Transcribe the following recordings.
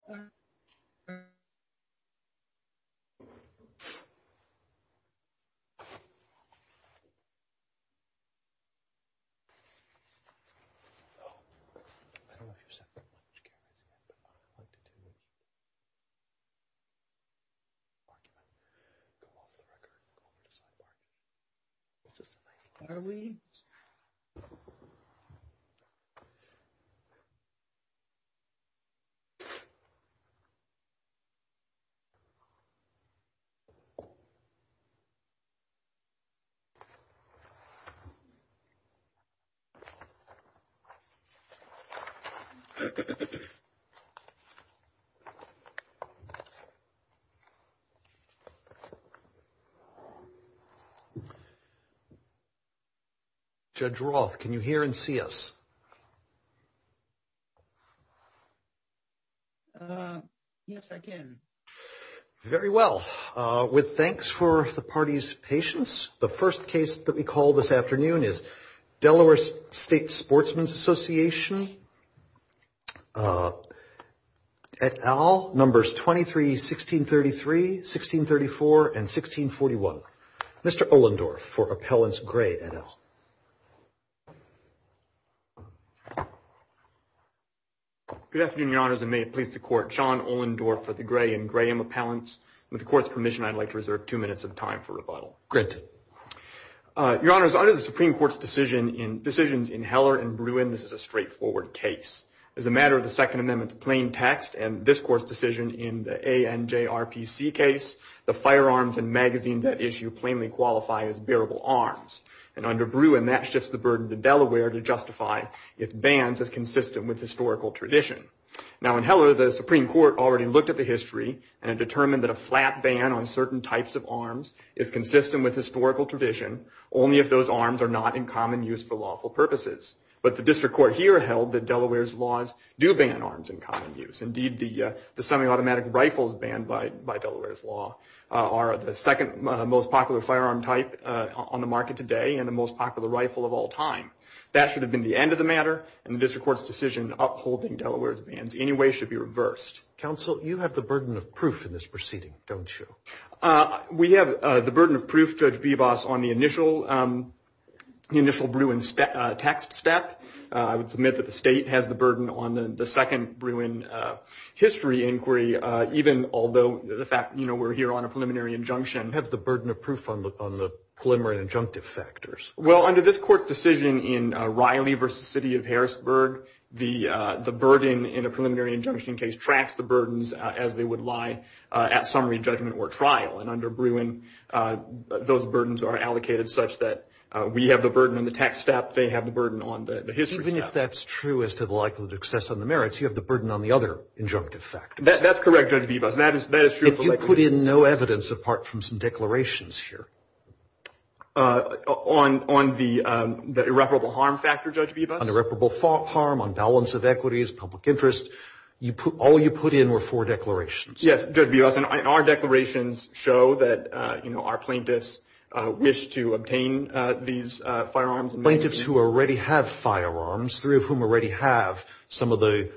Department of State Special Enforcement Officers DE Permanent Yes, I can. Very well. With thanks for the party's patience. The first case that we call this afternoon is Delaware State Sportsman's Association at all. Numbers 23, 1633, 1634 and 1641 Mr. Olendorf for appellants gray at all. Good afternoon, your honors and may it please the court. Sean Olendorf for the gray and Graham appellants. With the court's permission, I'd like to reserve two minutes of time for rebuttal. Great. Your honors, under the Supreme Court's decisions in Heller and Bruin, this is a straightforward case. As a matter of the Second Amendment's plain text and this court's decision in the ANJRPC case, the firearms and magazines at issue plainly qualify as bearable arms. And under Bruin, that shifts the burden to Delaware to justify its bans as consistent with historical tradition. Now in Heller, the Supreme Court already looked at the history and determined that a flat ban on certain types of arms is consistent with historical tradition, only if those arms are not in common use for lawful purposes. But the district court here held that Delaware's laws do ban arms in common use. Indeed, the semi-automatic rifles banned by Delaware's law are the second most popular firearm type on the market today and the most popular rifle of all time. That should have been the end of the matter and the district court's decision upholding Delaware's bans anyway should be reversed. Counsel, you have the burden of proof in this proceeding, don't you? We have the burden of proof, Judge Bebas, on the initial Bruin taxed step. I would submit that the state has the burden on the second Bruin history inquiry, even although the fact, you know, we're here on a preliminary injunction. You have the burden of proof on the preliminary injunctive factors. Well, under this court's decision in Riley v. City of Harrisburg, the burden in a preliminary injunction case tracks the burdens as they would lie at summary judgment or trial. And under Bruin, those burdens are allocated such that we have the burden on the taxed step, they have the burden on the history step. Even if that's true as to the likelihood of excess on the merits, you have the burden on the other injunctive factors. That's correct, Judge Bebas, that is true. If you put in no evidence apart from some declarations here. On the irreparable harm factor, Judge Bebas? On irreparable harm, on balance of equities, public interest, all you put in were four declarations. Yes, Judge Bebas, and our declarations show that, you know, our plaintiffs wish to obtain these firearms. Plaintiffs who already have firearms, three of whom already have some of the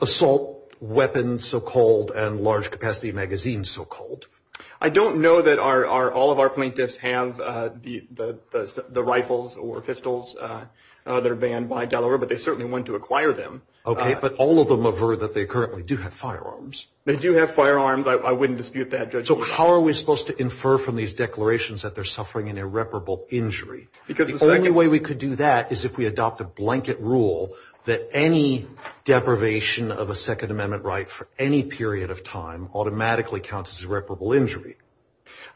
assault weapons, so-called, and large capacity magazines, so-called. I don't know that all of our plaintiffs have the rifles or pistols that are banned by Delaware, but they certainly want to acquire them. But all of them avert that they currently do have firearms. They do have firearms. I wouldn't dispute that, Judge Bebas. So how are we supposed to infer from these declarations that they're suffering an irreparable injury? Because the only way we could do that is if we adopt a blanket rule that any deprivation of a Second Amendment right for any period of time automatically counts as irreparable injury.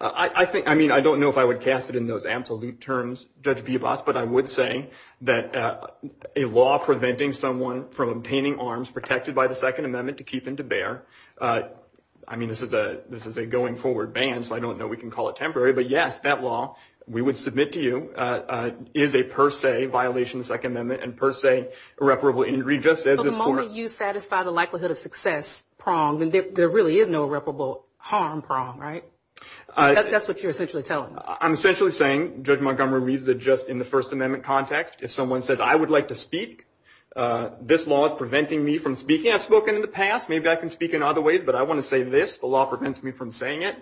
I think, I mean, I don't know if I would cast it in those absolute terms, Judge Bebas, but I would say that a law preventing someone from obtaining arms protected by the Second Amendment to keep them to bear, I mean, this is a going forward ban, so I don't know if we can call it temporary, but yes, that law, we would submit to you, is a per se violation of the Second Amendment and per se irreparable injury. So the moment you satisfy the likelihood of success prong, then there really is no irreparable harm prong, right? That's what you're essentially telling us. I'm essentially saying, Judge Montgomery reads it just in the First Amendment context, if someone says, I would like to speak, this law is preventing me from speaking. I've spoken in the past, maybe I can speak in other ways, but I want to say this, the law prevents me from saying it.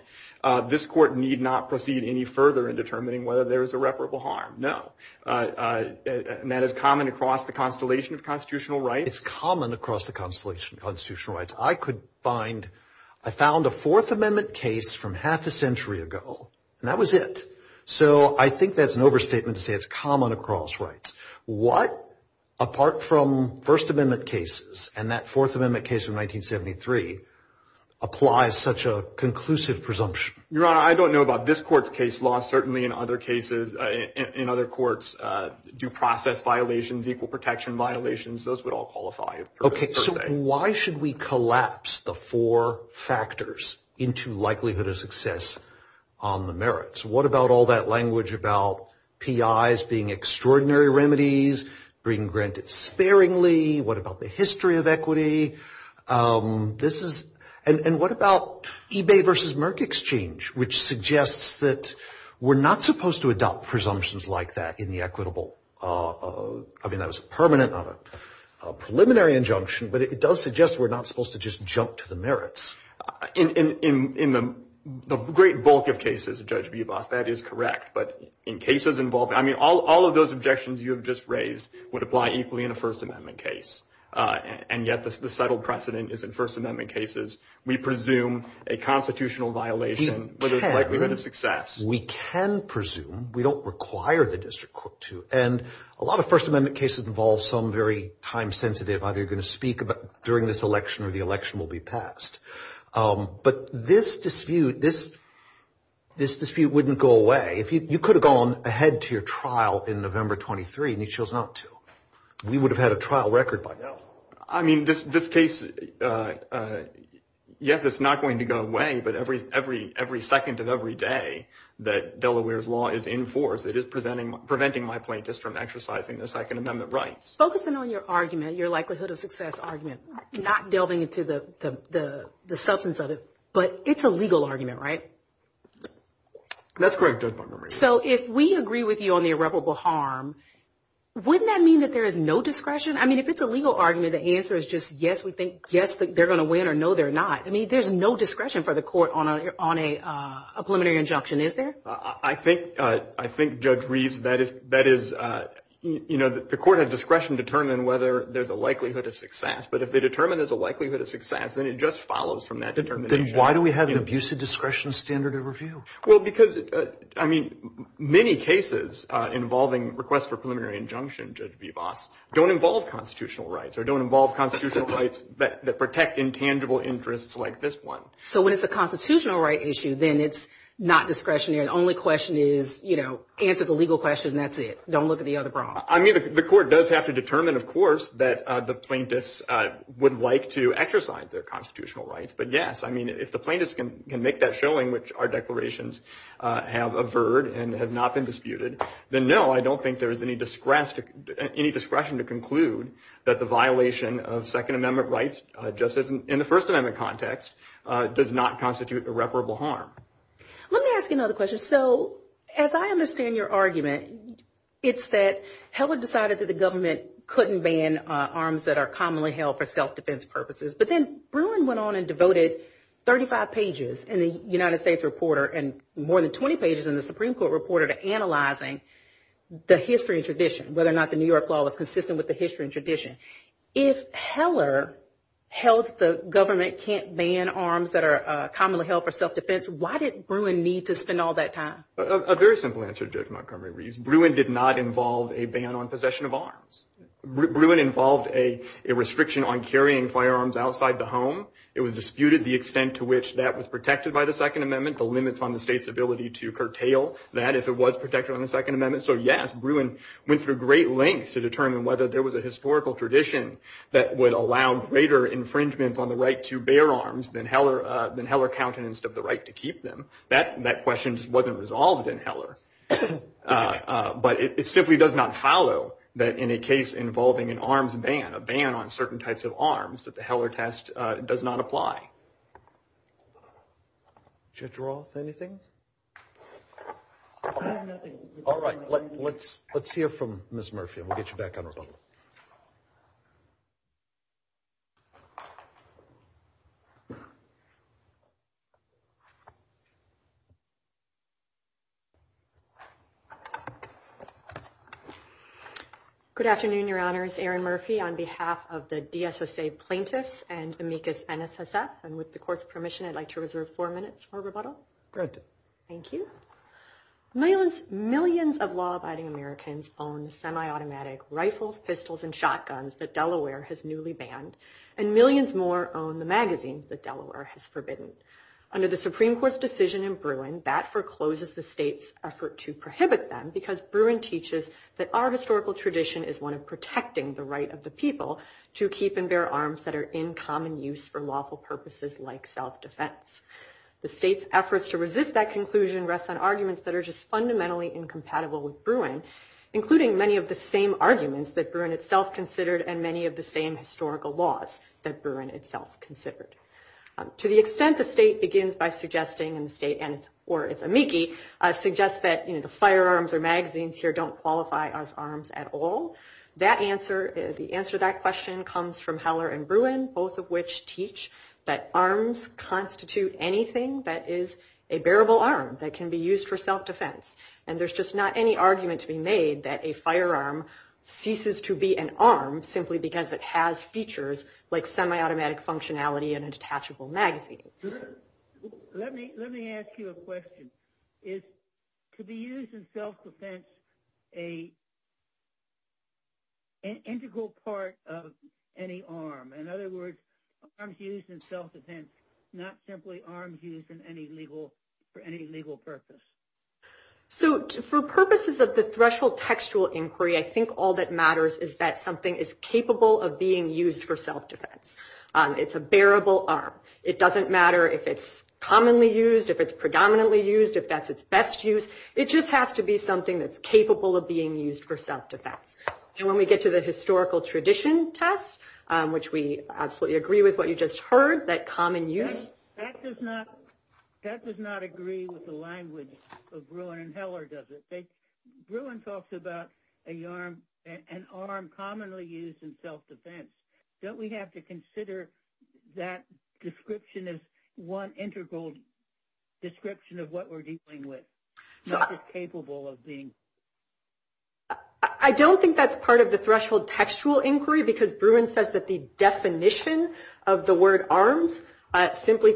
This Court need not proceed any further in determining whether there is irreparable harm. No. And that is common across the constellation of constitutional rights. It's common across the constellation of constitutional rights. I could find, I found a Fourth Amendment case from half a century ago, and that was it. So I think that's an overstatement to say it's common across rights. What, apart from First Amendment cases and that Fourth Amendment case from 1973, applies such a conclusive presumption? Your Honor, I don't know about this Court's case law. Certainly in other cases, in other courts, due process violations, equal protection violations, those would all qualify. Okay, so why should we collapse the four factors into likelihood of success on the merits? What about all that language about PIs being extraordinary remedies, being granted sparingly? What about the history of equity? This is, and what about eBay versus Merck Exchange, which suggests that we're not supposed to adopt presumptions like that in the equitable? I mean, that was a permanent, not a preliminary injunction, but it does suggest we're not supposed to just jump to the merits. In the great bulk of cases, Judge Bubas, that is correct. But in cases involving, I mean, all of those objections you have just raised would apply equally in a First Amendment case. And yet the settled precedent is in First Amendment cases, we presume a constitutional violation, whether it's likelihood of success. We can presume. We don't require the district court to. And a lot of First Amendment cases involve some very time-sensitive, either you're going to speak during this election or the election will be passed. But this dispute, this dispute wouldn't go away. You could have gone ahead to your trial in November 23, and you chose not to. We would have had a trial record by now. I mean, this case, yes, it's not going to go away. But every second of every day that Delaware's law is in force, it is preventing my plaintiffs from exercising their Second Amendment rights. Focusing on your argument, your likelihood of success argument, not delving into the substance of it, but it's a legal argument, right? That's correct, Judge Montgomery. So if we agree with you on the irreparable harm, wouldn't that mean that there is no discretion? I mean, if it's a legal argument, the answer is just yes, we think, yes, they're going to win, or no, they're not. I mean, there's no discretion for the court on a preliminary injunction, is there? I think, Judge Reeves, that is, you know, the court has discretion to determine whether there's a likelihood of success. But if they determine there's a likelihood of success, then it just follows from that determination. Then why do we have an abusive discretion standard of review? Well, because, I mean, many cases involving requests for preliminary injunction, Judge Vivas, don't involve constitutional rights or don't involve constitutional rights that protect intangible interests like this one. So when it's a constitutional right issue, then it's not discretionary. The only question is, you know, answer the legal question and that's it. Don't look at the other problem. I mean, the court does have to determine, of course, that the plaintiffs would like to exercise their constitutional rights. But, yes, I mean, if the plaintiffs can make that showing, which our declarations have averred and have not been disputed, then, no, I don't think there is any discretion to conclude that the violation of Second Amendment rights, just as in the First Amendment context, does not constitute irreparable harm. Let me ask you another question. So as I understand your argument, it's that Heller decided that the government couldn't ban arms that are commonly held for self-defense purposes. But then Bruin went on and devoted 35 pages in the United States Reporter and more than 20 pages in the Supreme Court Reporter to analyzing the history and tradition, whether or not the New York law was consistent with the history and tradition. If Heller held that the government can't ban arms that are commonly held for self-defense, why did Bruin need to spend all that time? A very simple answer, Judge Montgomery-Reese. Bruin did not involve a ban on possession of arms. Bruin involved a restriction on carrying firearms outside the home. It was disputed the extent to which that was protected by the Second Amendment, the limits on the state's ability to curtail that if it was protected on the Second Amendment. So, yes, Bruin went through great lengths to determine whether there was a historical tradition that would allow greater infringement on the right to bear arms than Heller countenanced of the right to keep them. That question just wasn't resolved in Heller. But it simply does not follow that in a case involving an arms ban, a ban on certain types of arms, that the Heller test does not apply. Judge Roth, anything? I have nothing. All right. Let's hear from Ms. Murphy and we'll get you back on the phone. Good afternoon, Your Honors. Erin Murphy on behalf of the DSSA plaintiffs and Amicus NSSF. And with the Court's permission, I'd like to reserve four minutes for rebuttal. Good. Thank you. Millions of law-abiding Americans own semi-automatic rifles, pistols, and shotguns that Delaware has newly banned, and millions more own the magazines that Delaware has forbidden. Under the Supreme Court's decision in Bruin, that forecloses the state's effort to prohibit them because Bruin teaches that our historical tradition is one of protecting the right of the people to keep and bear arms that are in common use for lawful purposes like self-defense. The state's efforts to resist that conclusion rests on arguments that are just fundamentally incompatible with Bruin, including many of the same arguments that Bruin itself considered and many of the same historical laws that Bruin itself considered. To the extent the state begins by suggesting, and the state or its amici suggests that, you know, the firearms or magazines here don't qualify as arms at all, the answer to that question comes from Heller and Bruin, both of which teach that arms constitute anything that is a bearable arm that can be used for self-defense. And there's just not any argument to be made that a firearm ceases to be an arm simply because it has features like semi-automatic functionality and a detachable magazine. Let me ask you a question. Is to be used in self-defense an integral part of any arm? In other words, arms used in self-defense, not simply arms used for any legal purpose? So for purposes of the threshold textual inquiry, I think all that matters is that something is capable of being used for self-defense. It's a bearable arm. It doesn't matter if it's commonly used, if it's predominantly used, if that's its best use. It just has to be something that's capable of being used for self-defense. And when we get to the historical tradition test, which we absolutely agree with what you just heard, that common use. That does not agree with the language of Bruin and Heller, does it? Bruin talks about an arm commonly used in self-defense. Don't we have to consider that description as one integral description of what we're dealing with, not just capable of being used? I don't think that's part of the threshold textual inquiry, because Bruin says that the definition of the word arms simply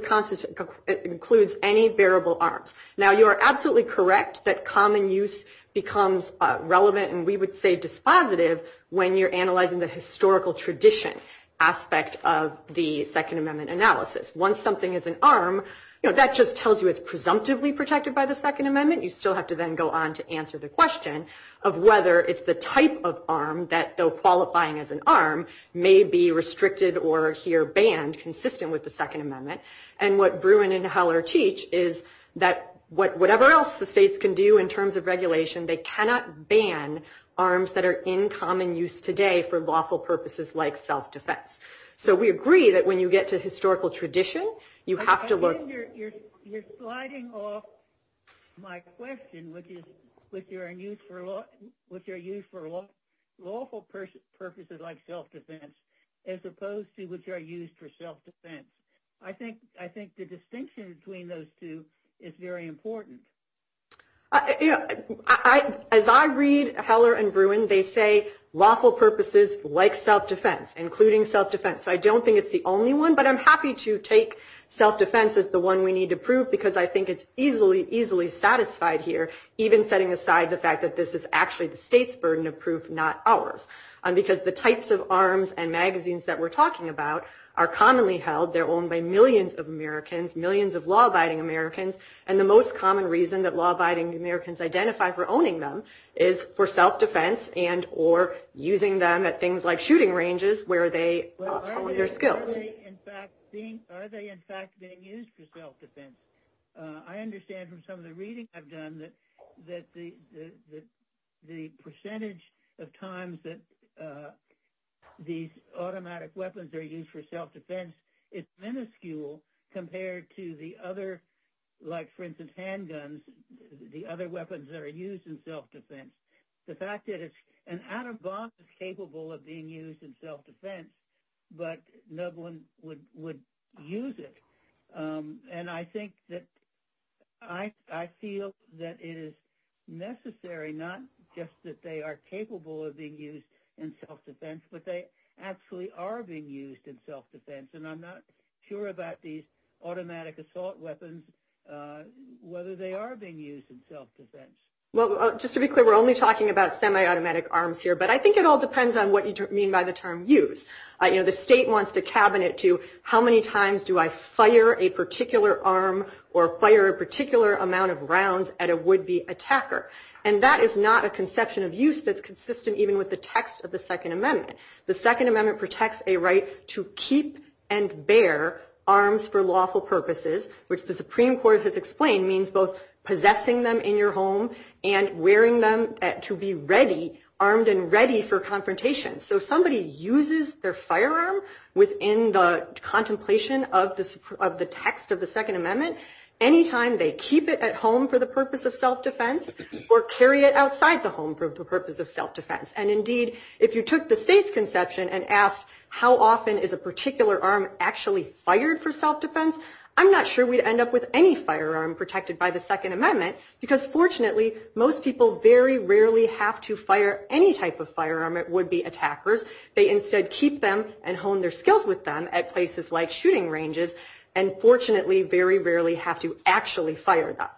includes any bearable arms. Now, you are absolutely correct that common use becomes relevant, and we would say dispositive, when you're analyzing the historical tradition aspect of the Second Amendment analysis. Once something is an arm, that just tells you it's presumptively protected by the Second Amendment. You still have to then go on to answer the question of whether it's the type of arm that, though qualifying as an arm, may be restricted or here banned, consistent with the Second Amendment. And what Bruin and Heller teach is that whatever else the states can do in terms of regulation, they cannot ban arms that are in common use today for lawful purposes like self-defense. So we agree that when you get to historical tradition, you have to look— You're sliding off my question, which are used for lawful purposes like self-defense, as opposed to which are used for self-defense. I think the distinction between those two is very important. As I read Heller and Bruin, they say lawful purposes like self-defense, including self-defense. So I don't think it's the only one, but I'm happy to take self-defense as the one we need to prove, because I think it's easily, easily satisfied here, even setting aside the fact that this is actually the state's burden of proof, not ours. Because the types of arms and magazines that we're talking about are commonly held. They're owned by millions of Americans, millions of law-abiding Americans. And the most common reason that law-abiding Americans identify for owning them is for self-defense and or using them at things like shooting ranges where they hone their skills. Are they in fact being used for self-defense? I understand from some of the reading I've done that the percentage of times that these automatic weapons are used for self-defense is minuscule compared to the other, like for instance handguns, the other weapons that are used in self-defense. The fact that an atom bomb is capable of being used in self-defense, but no one would use it. And I think that I feel that it is necessary not just that they are capable of being used in self-defense, but they actually are being used in self-defense. And I'm not sure about these automatic assault weapons, whether they are being used in self-defense. Well, just to be clear, we're only talking about semi-automatic arms here, but I think it all depends on what you mean by the term used. You know, the state wants to cabinet to how many times do I fire a particular arm or fire a particular amount of rounds at a would-be attacker. And that is not a conception of use that's consistent even with the text of the Second Amendment. The Second Amendment protects a right to keep and bear arms for lawful purposes, which the Supreme Court has explained means both possessing them in your home and wearing them to be ready, armed and ready for confrontation. So if somebody uses their firearm within the contemplation of the text of the Second Amendment, any time they keep it at home for the purpose of self-defense or carry it outside the home for the purpose of self-defense. And indeed, if you took the state's conception and asked how often is a particular arm actually fired for self-defense, I'm not sure we'd end up with any firearm protected by the Second Amendment because fortunately most people very rarely have to fire any type of firearm at would-be attackers. They instead keep them and hone their skills with them at places like shooting ranges and fortunately very rarely have to actually fire them.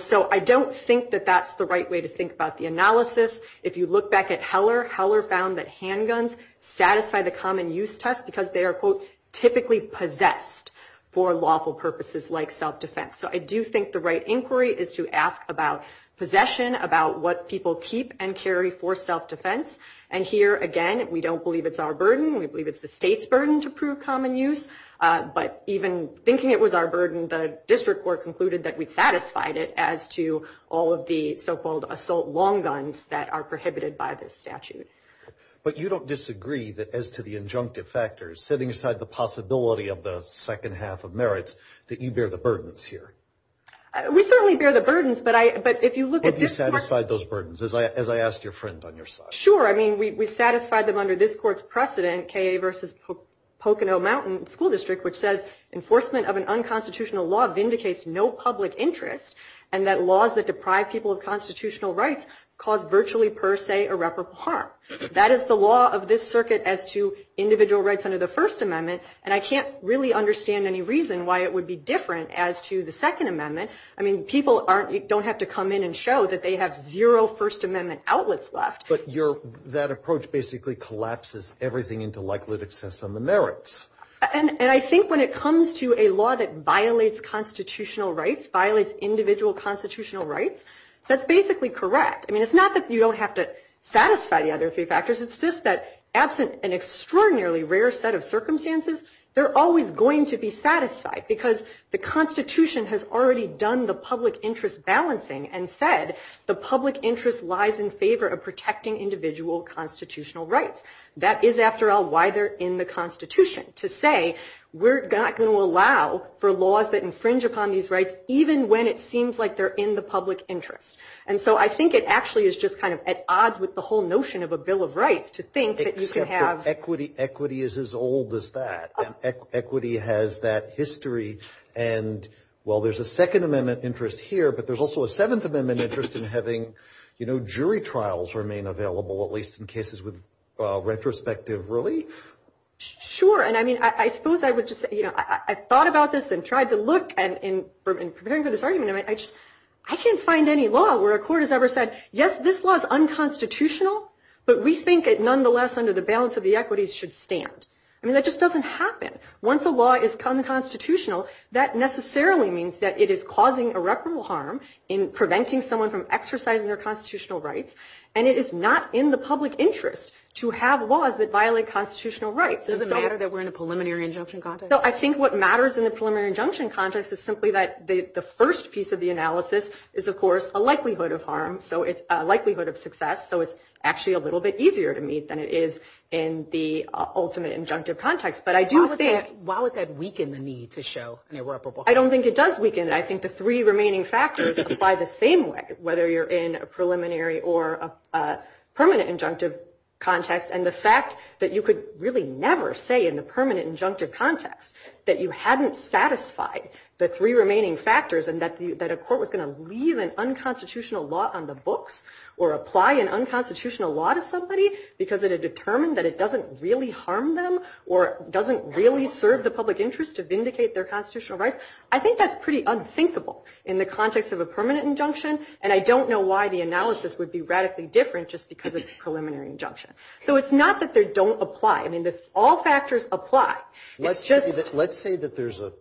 So I don't think that that's the right way to think about the analysis. If you look back at Heller, Heller found that handguns satisfy the common use test because they are, quote, typically possessed for lawful purposes like self-defense. So I do think the right inquiry is to ask about possession, about what people keep and carry for self-defense. And here, again, we don't believe it's our burden. We believe it's the state's burden to prove common use. But even thinking it was our burden, the district court concluded that we satisfied it as to all of the so-called assault long guns that are prohibited by this statute. But you don't disagree that as to the injunctive factors, setting aside the possibility of the second half of merits, that you bear the burdens here? We certainly bear the burdens, but if you look at this court's... But you satisfied those burdens, as I asked your friend on your side. Sure. I mean, we satisfied them under this court's precedent, K.A. v. Pocono Mountain School District, which says enforcement of an unconstitutional law vindicates no public interest and that laws that deprive people of constitutional rights cause virtually per se irreparable harm. That is the law of this circuit as to individual rights under the First Amendment, and I can't really understand any reason why it would be different as to the Second Amendment. I mean, people don't have to come in and show that they have zero First Amendment outlets left. But that approach basically collapses everything into likelihood of excess on the merits. And I think when it comes to a law that violates constitutional rights, violates individual constitutional rights, that's basically correct. I mean, it's not that you don't have to satisfy the other three factors. It's just that absent an extraordinarily rare set of circumstances, they're always going to be satisfied because the Constitution has already done the public interest balancing and said the public interest lies in favor of protecting individual constitutional rights. That is, after all, why they're in the Constitution, to say, we're not going to allow for laws that infringe upon these rights even when it seems like they're in the public interest. And so I think it actually is just kind of at odds with the whole notion of a bill of rights to think that you can have. Except that equity is as old as that, and equity has that history. And, well, there's a Second Amendment interest here, but there's also a Seventh Amendment interest in having, you know, jury trials remain available, at least in cases with retrospective relief. Sure. And I mean, I suppose I would just say, you know, I thought about this and tried to look, and in preparing for this argument, I just, I can't find any law where a court has ever said, yes, this law is unconstitutional, but we think it nonetheless under the balance of the equities should stand. I mean, that just doesn't happen. Once a law is unconstitutional, that necessarily means that it is causing irreparable harm in preventing someone from exercising their constitutional rights, and it is not in the public interest to have laws that violate constitutional rights. Does it matter that we're in a preliminary injunction context? No, I think what matters in the preliminary injunction context is simply that the first piece of the analysis is, of course, a likelihood of harm, so it's a likelihood of success, so it's actually a little bit easier to meet than it is in the ultimate injunctive context. But I do think. Why would that weaken the need to show an irreparable harm? I don't think it does weaken it. I think the three remaining factors apply the same way, whether you're in a preliminary or a permanent injunctive context, and the fact that you could really never say in the permanent injunctive context that you hadn't satisfied the three remaining factors and that a court was going to leave an unconstitutional law on the books or apply an unconstitutional law to somebody because it had determined that it doesn't really harm them or doesn't really serve the public interest to vindicate their constitutional rights. I think that's pretty unthinkable in the context of a permanent injunction, and I don't know why the analysis would be radically different just because it's a preliminary injunction. So it's not that they don't apply. I mean, all factors apply. It's just. Let's say that there's a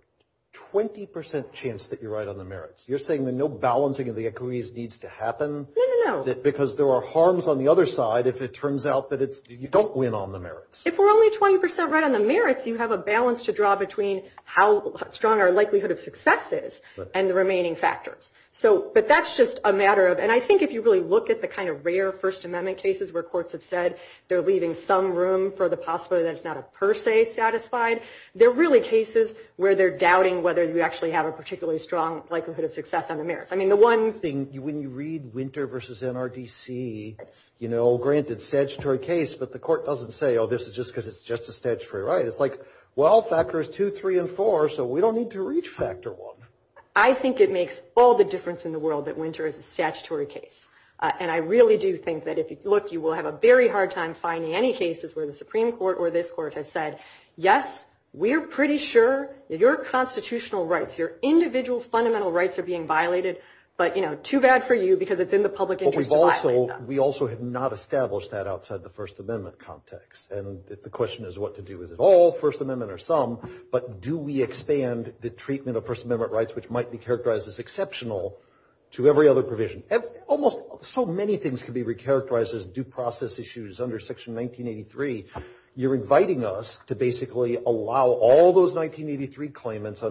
20% chance that you're right on the merits. You're saying that no balancing of the equities needs to happen? No, no, no. Because there are harms on the other side if it turns out that you don't win on the merits. If we're only 20% right on the merits, you have a balance to draw between how strong our likelihood of success is and the remaining factors. But that's just a matter of. And I think if you really look at the kind of rare First Amendment cases where courts have said they're leaving some room for the possibility that it's not a per se satisfied, they're really cases where they're doubting whether you actually have a particularly strong likelihood of success on the merits. I mean, the one thing. When you read Winter v. NRDC, you know, granted, it's a statutory case, but the court doesn't say, oh, this is just because it's just a statutory right. It's like, well, factors two, three, and four, so we don't need to reach factor one. I think it makes all the difference in the world that Winter is a statutory case. And I really do think that if you look, you will have a very hard time finding any cases where the Supreme Court or this court has said, yes, we're pretty sure your constitutional rights, your individual fundamental rights are being violated, but, you know, too bad for you because it's in the public interest to violate them. We also have not established that outside the First Amendment context. And the question is what to do. Is it all First Amendment or some? But do we expand the treatment of First Amendment rights, which might be characterized as exceptional, to every other provision? Almost so many things can be recharacterized as due process issues under Section 1983. You're inviting us to basically allow all those 1983 claimants,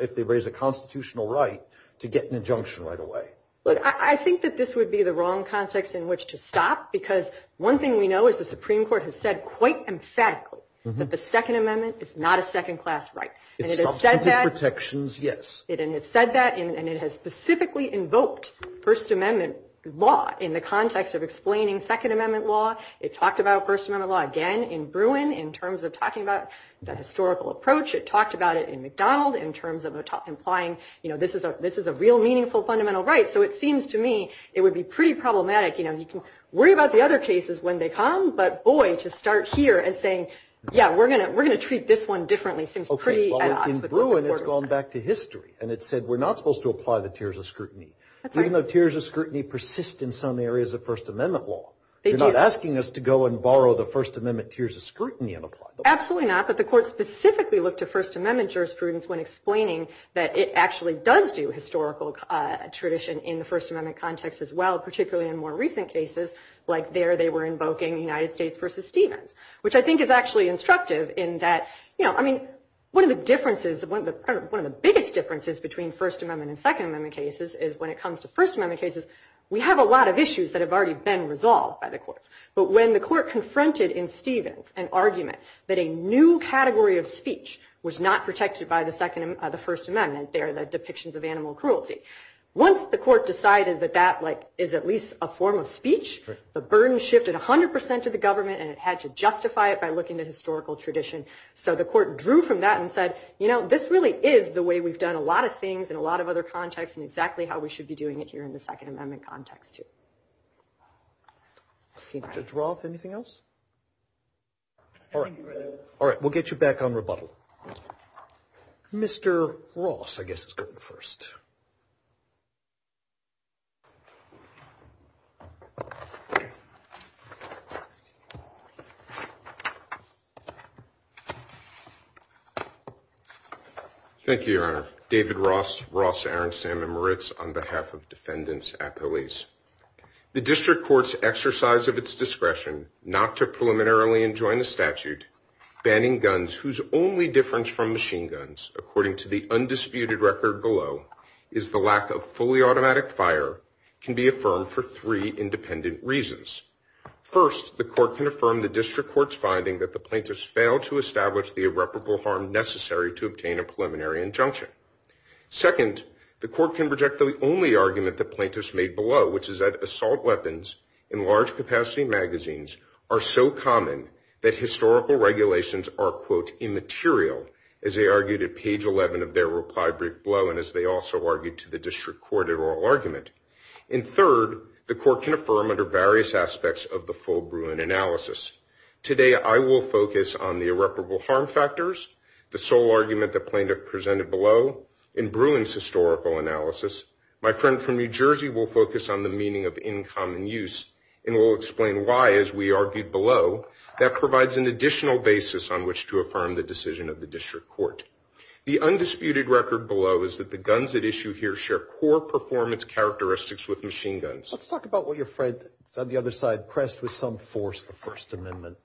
if they raise a constitutional right, to get an injunction right away. Look, I think that this would be the wrong context in which to stop, because one thing we know is the Supreme Court has said quite emphatically that the Second Amendment is not a second-class right. It's substantive protections, yes. And it said that, and it has specifically invoked First Amendment law in the context of explaining Second Amendment law. It talked about First Amendment law again in Bruin in terms of talking about the historical approach. It talked about it in McDonald in terms of implying, you know, this is a real meaningful fundamental right. So it seems to me it would be pretty problematic. You know, you can worry about the other cases when they come, but, boy, to start here as saying, yeah, we're going to treat this one differently seems pretty odd. In Bruin, it's gone back to history, and it said we're not supposed to apply the tiers of scrutiny, even though tiers of scrutiny persist in some areas of First Amendment law. They do. They're not asking us to go and borrow the First Amendment tiers of scrutiny and apply them. Absolutely not, but the Court specifically looked at First Amendment jurisprudence when explaining that it actually does do historical tradition in the First Amendment context as well, particularly in more recent cases, like there they were invoking United States versus Stevens, which I think is actually instructive in that, you know, I mean, one of the differences, one of the biggest differences between First Amendment and Second Amendment cases is when it comes to First Amendment cases, we have a lot of issues that have already been resolved by the courts. But when the Court confronted in Stevens an argument that a new category of speech was not protected by the First Amendment, they are the depictions of animal cruelty. Once the Court decided that that, like, is at least a form of speech, the burden shifted 100 percent to the government, and it had to justify it by looking at historical tradition. So the Court drew from that and said, you know, this really is the way we've done a lot of things in a lot of other contexts and exactly how we should be doing it here in the Second Amendment context, too. Dr. Droth, anything else? All right. We'll get you back on rebuttal. Mr. Ross, I guess, is going first. Thank you, Your Honor. David Ross, Ross, Aaron, Sam and Moritz on behalf of defendants at police. The district courts exercise of its discretion not to preliminarily enjoin the statute banning guns whose only difference from machine guns, according to the undisputed record below, is the lack of fully automatic fire can be affirmed for three independent reasons. First, the Court can affirm the district court's finding that the plaintiffs failed to establish the irreparable harm necessary to obtain a preliminary injunction. Second, the Court can reject the only argument the plaintiffs made below, which is that assault weapons in large capacity magazines are so common that historical regulations are, quote, immaterial, as they argued at page 11 of their reply brief below and as they also argued to the district court in oral argument. And third, the Court can affirm under various aspects of the full Bruin analysis. Today, I will focus on the irreparable harm factors, the sole argument the plaintiff presented below. In Bruin's historical analysis, my friend from New Jersey will focus on the meaning of in common use and will explain why, as we argued below, that provides an additional basis on which to affirm the decision of the district court. The undisputed record below is that the guns at issue here share core performance characteristics with machine guns. Let's talk about what your friend on the other side pressed with some force, the First Amendment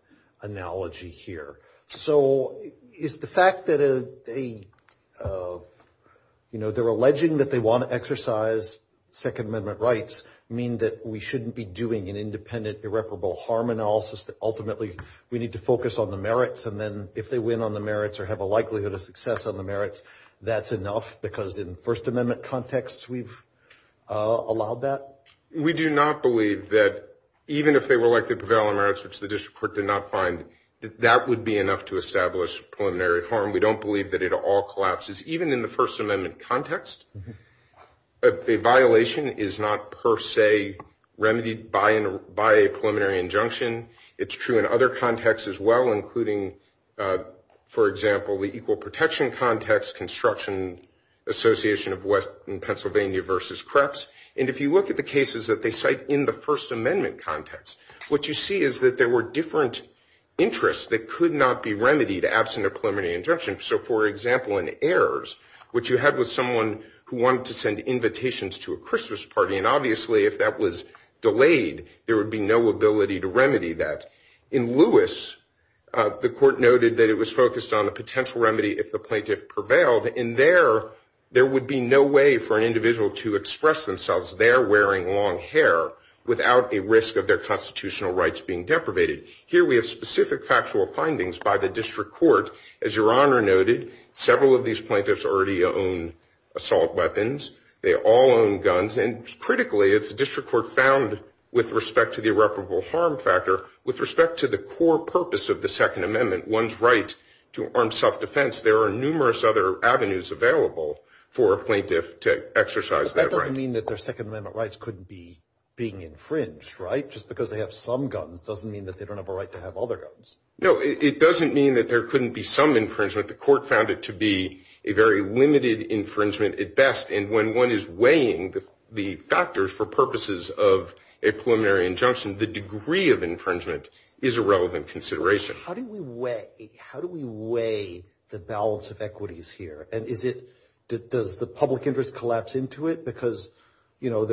analogy here. So is the fact that they're alleging that they want to exercise Second Amendment rights mean that we shouldn't be doing an independent irreparable harm analysis, that ultimately we need to focus on the merits and then if they win on the merits or have a likelihood of success on the merits, that's enough? Because in First Amendment contexts, we've allowed that? We do not believe that even if they were likely to prevail on merits, which the district court did not find, that that would be enough to establish preliminary harm. We don't believe that it all collapses. Even in the First Amendment context, a violation is not per se remedied by a preliminary injunction. It's true in other contexts as well, including, for example, the equal protection context, construction association of Pennsylvania versus Kreps. And if you look at the cases that they cite in the First Amendment context, what you see is that there were different interests that could not be remedied absent a preliminary injunction. So, for example, in Ayers, what you had was someone who wanted to send invitations to a Christmas party, and obviously if that was delayed, there would be no ability to remedy that. In Lewis, the court noted that it was focused on the potential remedy if the plaintiff prevailed, and there would be no way for an individual to express themselves there wearing long hair without a risk of their constitutional rights being deprivated. Here we have specific factual findings by the district court. As Your Honor noted, several of these plaintiffs already own assault weapons. They all own guns. And critically, it's the district court found, with respect to the irreparable harm factor, with respect to the core purpose of the Second Amendment, one's right to armed self-defense, there are numerous other avenues available for a plaintiff to exercise that right. But that doesn't mean that their Second Amendment rights couldn't be being infringed, right? Just because they have some guns doesn't mean that they don't have a right to have other guns. No, it doesn't mean that there couldn't be some infringement. The court found it to be a very limited infringement at best, and when one is weighing the factors for purposes of a preliminary injunction, the degree of infringement is a relevant consideration. How do we weigh the balance of equities here? And does the public interest collapse into it? Because, you know,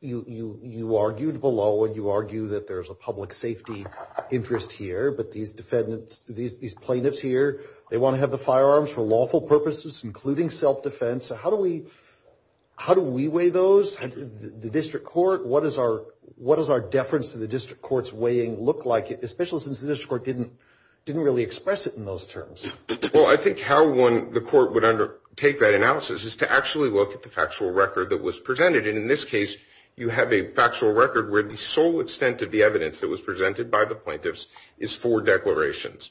you argued below, and you argue that there's a public safety interest here, but these plaintiffs here, they want to have the firearms for lawful purposes, including self-defense. How do we weigh those? The district court, what does our deference to the district court's weighing look like, especially since the district court didn't really express it in those terms? Well, I think how the court would undertake that analysis is to actually look at the factual record that was presented. And in this case, you have a factual record where the sole extent of the evidence that was presented by the plaintiffs is four declarations,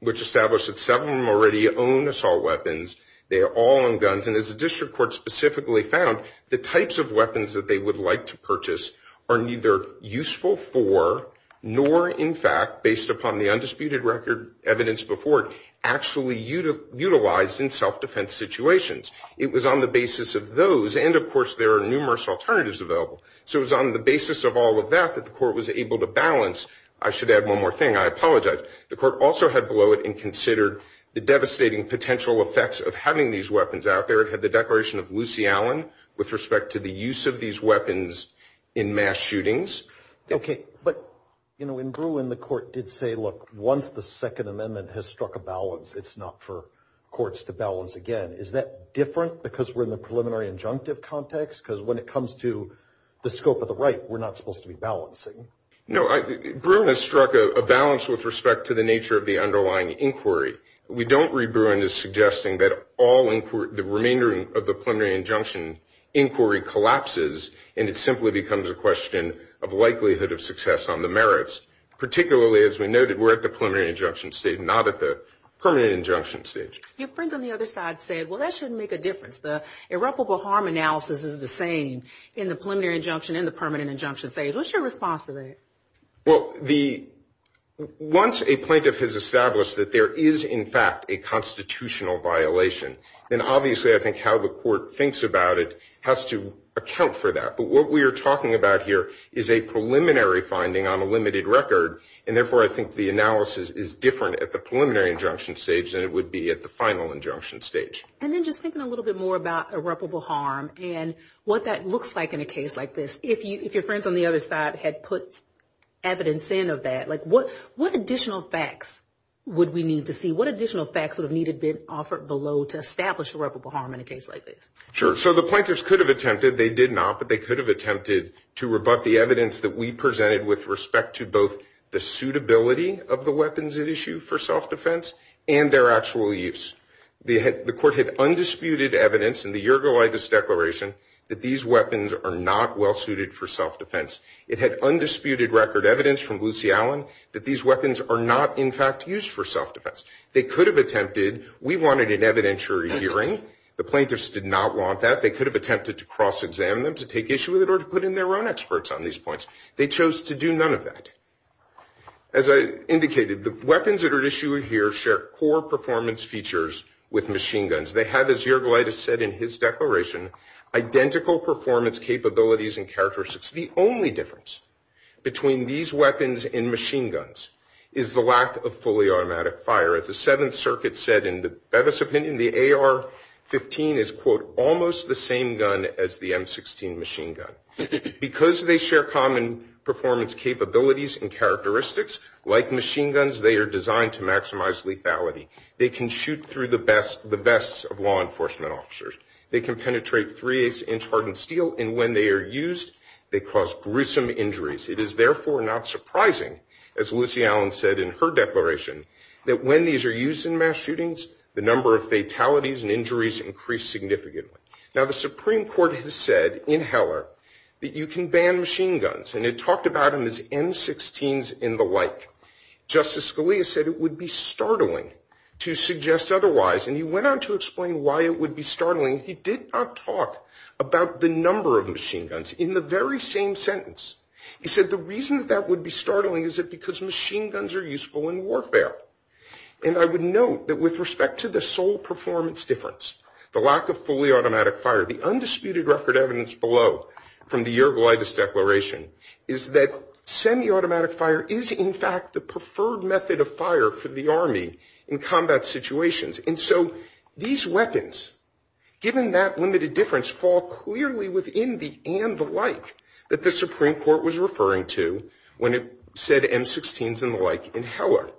which established that seven of them already own assault weapons. They are all on guns. And as the district court specifically found, the types of weapons that they would like to purchase are neither useful for, nor, in fact, based upon the undisputed record evidence before it, actually utilized in self-defense situations. It was on the basis of those. And, of course, there are numerous alternatives available. So it was on the basis of all of that that the court was able to balance. I should add one more thing. I apologize. The court also had below it and considered the devastating potential effects of having these weapons out there. It had the declaration of Lucy Allen with respect to the use of these weapons in mass shootings. Okay. But, you know, in Bruin, the court did say, look, once the Second Amendment has struck a balance, it's not for courts to balance again. Is that different because we're in the preliminary injunctive context? Because when it comes to the scope of the right, we're not supposed to be balancing. No. Bruin has struck a balance with respect to the nature of the underlying inquiry. We don't read Bruin as suggesting that all inquiry, the remainder of the preliminary injunction inquiry collapses and it simply becomes a question of likelihood of success on the merits. Particularly, as we noted, we're at the preliminary injunction stage, not at the permanent injunction stage. Your friend on the other side said, well, that shouldn't make a difference. The irreparable harm analysis is the same in the preliminary injunction and the permanent injunction stage. What's your response to that? Well, once a plaintiff has established that there is, in fact, a constitutional violation, then obviously I think how the court thinks about it has to account for that. But what we are talking about here is a preliminary finding on a limited record, and therefore I think the analysis is different at the preliminary injunction stage than it would be at the final injunction stage. And then just thinking a little bit more about irreparable harm and what that looks like in a case like this. If your friends on the other side had put evidence in of that, like what additional facts would we need to see? Sure. So the plaintiffs could have attempted, they did not, but they could have attempted to rebut the evidence that we presented with respect to both the suitability of the weapons at issue for self-defense and their actual use. The court had undisputed evidence in the Yergolaitis Declaration that these weapons are not well-suited for self-defense. It had undisputed record evidence from Lucy Allen that these weapons are not, in fact, used for self-defense. They could have attempted, we wanted an evidentiary hearing. The plaintiffs did not want that. They could have attempted to cross-examine them, to take issue with it, or to put in their own experts on these points. They chose to do none of that. As I indicated, the weapons that are at issue here share core performance features with machine guns. They have, as Yergolaitis said in his declaration, identical performance capabilities and characteristics. The only difference between these weapons and machine guns is the lack of fully automatic fire. As the Seventh Circuit said in the Bevis opinion, the AR-15 is, quote, almost the same gun as the M-16 machine gun. Because they share common performance capabilities and characteristics, like machine guns, they are designed to maximize lethality. They can shoot through the vests of law enforcement officers. They can penetrate 3-8-inch hardened steel. And when they are used, they cause gruesome injuries. It is, therefore, not surprising, as Lucy Allen said in her declaration, that when these are used in mass shootings, the number of fatalities and injuries increase significantly. Now, the Supreme Court has said in Heller that you can ban machine guns. And it talked about them as M-16s and the like. Justice Scalia said it would be startling to suggest otherwise. And he went on to explain why it would be startling. He did not talk about the number of machine guns in the very same sentence. He said the reason that that would be startling is because machine guns are useful in warfare. And I would note that with respect to the sole performance difference, the lack of fully automatic fire, the undisputed record evidence below from the Yergolaitis Declaration, is that semi-automatic fire is, in fact, the preferred method of fire for the Army in combat situations. And so these weapons, given that limited difference, fall clearly within the and the like that the Supreme Court was referring to when it said M-16s and the like in Heller.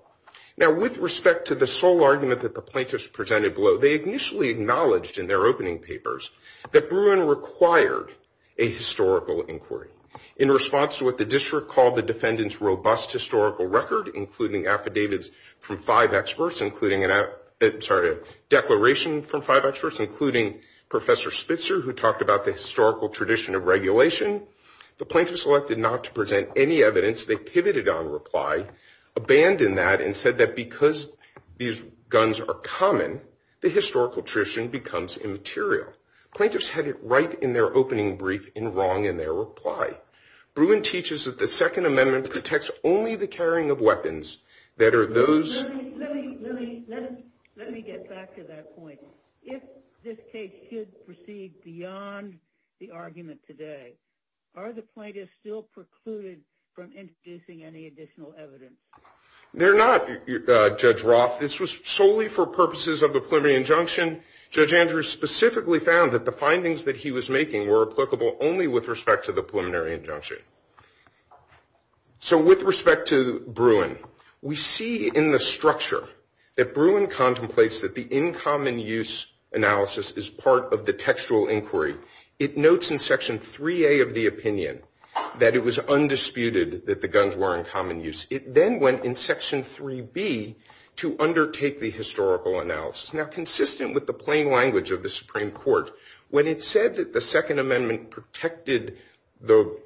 Now, with respect to the sole argument that the plaintiffs presented below, they initially acknowledged in their opening papers that Bruin required a historical inquiry. In response to what the district called the defendant's robust historical record, including affidavits from five experts, including a declaration from five experts, including Professor Spitzer, who talked about the historical tradition of regulation, the plaintiffs elected not to present any evidence. They pivoted on reply, abandoned that, and said that because these guns are common, the historical tradition becomes immaterial. Plaintiffs had it right in their opening brief and wrong in their reply. Bruin teaches that the Second Amendment protects only the carrying of weapons that are those- Let me get back to that point. If this case should proceed beyond the argument today, are the plaintiffs still precluded from introducing any additional evidence? They're not, Judge Roth. This was solely for purposes of the preliminary injunction. Judge Andrews specifically found that the findings that he was making were applicable only with respect to the preliminary injunction. So with respect to Bruin, we see in the structure that Bruin contemplates that the in common use analysis is part of the textual inquiry. It notes in Section 3A of the opinion that it was undisputed that the guns were in common use. It then went in Section 3B to undertake the historical analysis. Now, consistent with the plain language of the Supreme Court, when it said that the Second Amendment protected the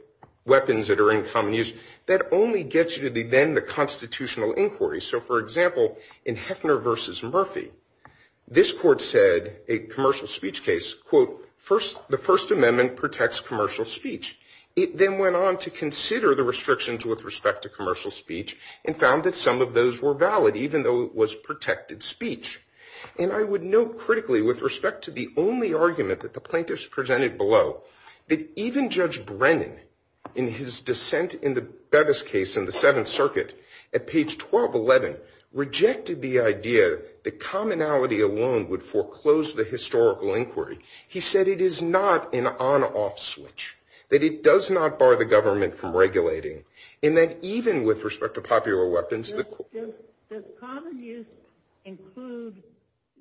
weapons that are in common use, that only gets you to then the constitutional inquiry. So, for example, in Heckner v. Murphy, this court said a commercial speech case, quote, the First Amendment protects commercial speech. It then went on to consider the restrictions with respect to commercial speech and found that some of those were valid, even though it was protected speech. And I would note critically with respect to the only argument that the plaintiffs presented below, that even Judge Brennan in his dissent in the Bevis case in the Seventh Circuit at page 1211, rejected the idea that commonality alone would foreclose the historical inquiry. He said it is not an on-off switch, that it does not bar the government from regulating, and that even with respect to popular weapons. Does common use include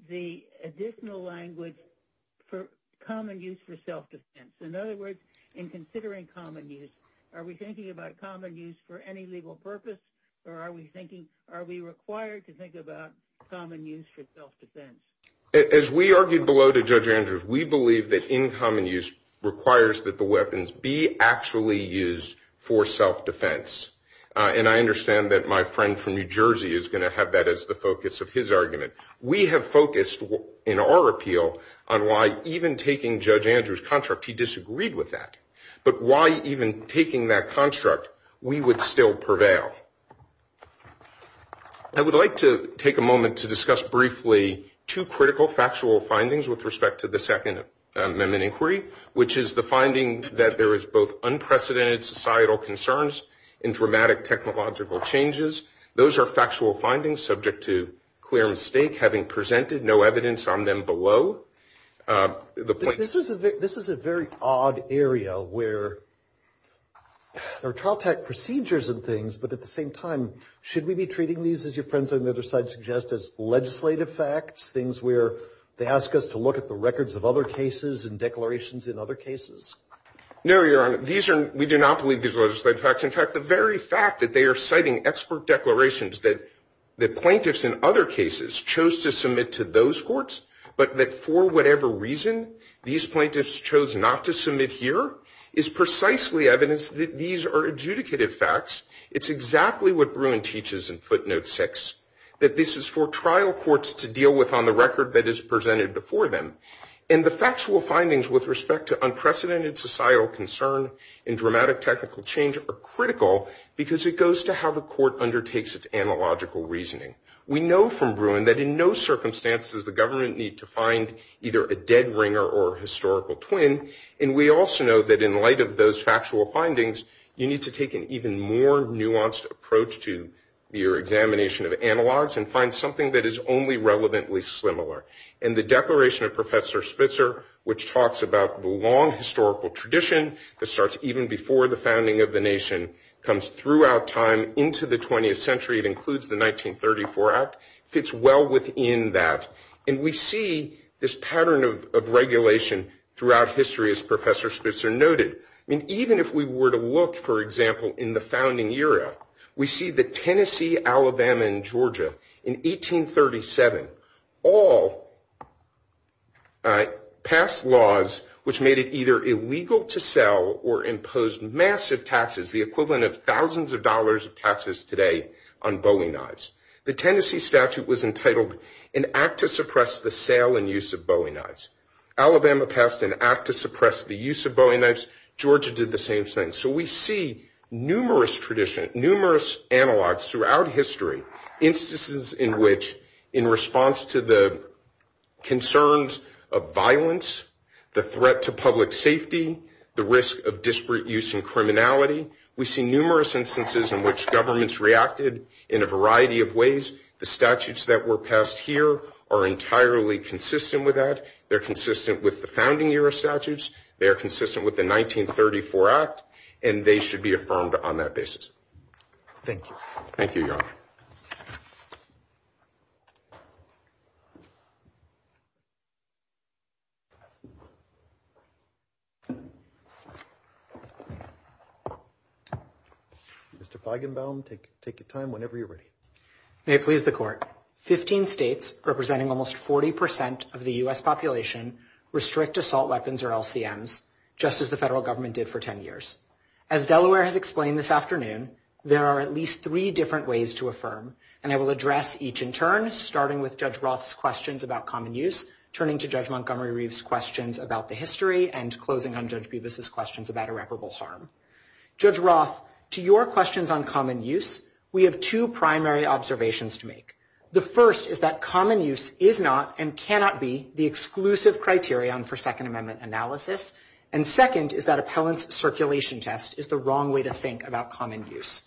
the additional language for common use for self-defense? In other words, in considering common use, are we thinking about common use for any legal purpose, or are we thinking, are we required to think about common use for self-defense? As we argued below to Judge Andrews, we believe that in common use requires that the weapons be actually used for self-defense. And I understand that my friend from New Jersey is going to have that as the focus of his argument. We have focused in our appeal on why even taking Judge Andrews' construct, he disagreed with that. But why even taking that construct, we would still prevail. I would like to take a moment to discuss briefly two critical factual findings with respect to the Second Amendment Inquiry, which is the finding that there is both unprecedented societal concerns and dramatic technological changes. Those are factual findings subject to clear mistake, having presented no evidence on them below. This is a very odd area where there are child tax procedures and things, but at the same time, should we be treating these, as your friends on the other side suggest, as legislative facts, things where they ask us to look at the records of other cases and declarations in other cases? No, Your Honor. We do not believe these are legislative facts. In fact, the very fact that they are citing expert declarations that plaintiffs in other cases chose to submit to those courts, but that for whatever reason, these plaintiffs chose not to submit here, is precisely evidence that these are adjudicative facts. It's exactly what Bruin teaches in Footnote 6, that this is for trial courts to deal with on the record that is presented before them. And the factual findings with respect to unprecedented societal concern and dramatic technical change are critical, because it goes to how the court undertakes its analogical reasoning. We know from Bruin that in no circumstances does the government need to find either a dead ringer or a historical twin, and we also know that in light of those factual findings, you need to take an even more nuanced approach to your examination of analogs and find something that is only relevantly similar. In the Declaration of Professor Spitzer, which talks about the long historical tradition, that starts even before the founding of the nation, comes throughout time into the 20th century. It includes the 1934 Act. It fits well within that. And we see this pattern of regulation throughout history, as Professor Spitzer noted. Even if we were to look, for example, in the founding era, we see that Tennessee, Alabama, and Georgia, in 1837, all passed laws which made it either illegal to sell or imposed massive taxes, the equivalent of thousands of dollars of taxes today on bowing knives. The Tennessee statute was entitled, An Act to Suppress the Sale and Use of Bowing Knives. Alabama passed an act to suppress the use of bowing knives. Georgia did the same thing. So we see numerous analogs throughout history, instances in which, in response to the concerns of violence, the threat to public safety, the risk of disparate use and criminality. We see numerous instances in which governments reacted in a variety of ways. The statutes that were passed here are entirely consistent with that. They're consistent with the founding era statutes. They're consistent with the 1934 Act. And they should be affirmed on that basis. Thank you. Thank you, Your Honor. Mr. Feigenbaum, take your time whenever you're ready. May it please the Court, 15 states, representing almost 40 percent of the U.S. population, restrict assault weapons or LCMs, just as the federal government did for 10 years. As Delaware has explained this afternoon, there are at least three different ways to affirm. And I will address each in turn, starting with Judge Roth's questions about common use, turning to Judge Montgomery Reeve's questions about the history, and closing on Judge Bevis's questions about irreparable harm. Judge Roth, to your questions on common use, we have two primary observations to make. The first is that common use is not and cannot be the exclusive criterion for Second Amendment analysis. And second is that appellant's circulation test is the wrong way to think about common use.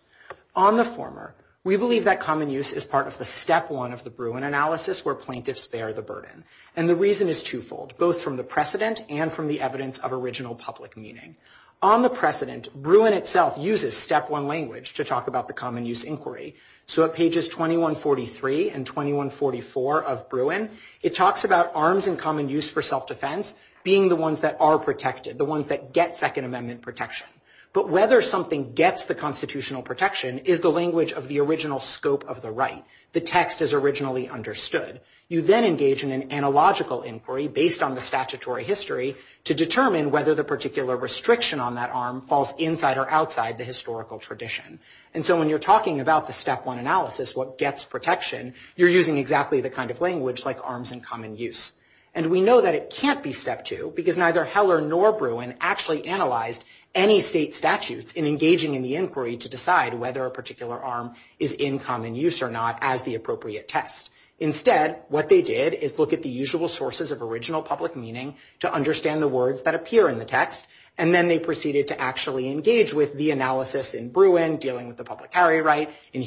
On the former, we believe that common use is part of the step one of the Bruin analysis where plaintiffs bear the burden. And the reason is twofold, both from the precedent and from the evidence of original public meaning. On the precedent, Bruin itself uses step one language to talk about the common use inquiry. So at pages 2143 and 2144 of Bruin, it talks about arms in common use for self-defense being the ones that are protected, the ones that get Second Amendment protection. But whether something gets the constitutional protection is the language of the original scope of the right. The text is originally understood. You then engage in an analogical inquiry based on the statutory history to determine whether the particular restriction on that arm falls inside or outside the historical tradition. And so when you're talking about the step one analysis, what gets protection, you're using exactly the kind of language like arms in common use. And we know that it can't be step two because neither Heller nor Bruin actually analyzed any state statutes in engaging in the inquiry to decide whether a particular arm is in common use or not as the appropriate test. Instead, what they did is look at the usual sources of original public meaning to understand the words that appear in the text, and then they proceeded to actually engage with the analysis in Bruin dealing with the public carry right, in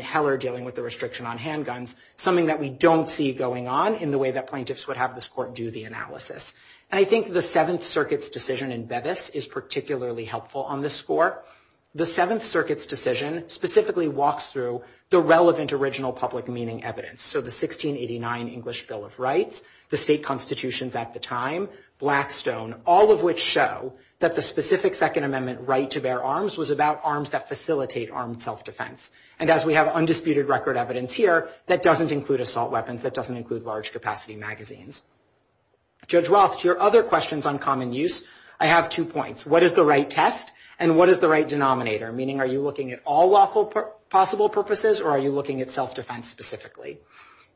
Heller dealing with the restriction on handguns, something that we don't see going on in the way that plaintiffs would have this court do the analysis. And I think the Seventh Circuit's decision in Bevis is particularly helpful on this score. The Seventh Circuit's decision specifically walks through the relevant original public meaning evidence, so the 1689 English Bill of Rights, the state constitutions at the time, Blackstone, all of which show that the specific Second Amendment right to bear arms was about arms that facilitate armed self-defense. And as we have undisputed record evidence here, that doesn't include assault weapons, that doesn't include large capacity magazines. Judge Roth, to your other questions on common use, I have two points. What is the right test and what is the right denominator, meaning are you looking at all lawful possible purposes or are you looking at self-defense specifically?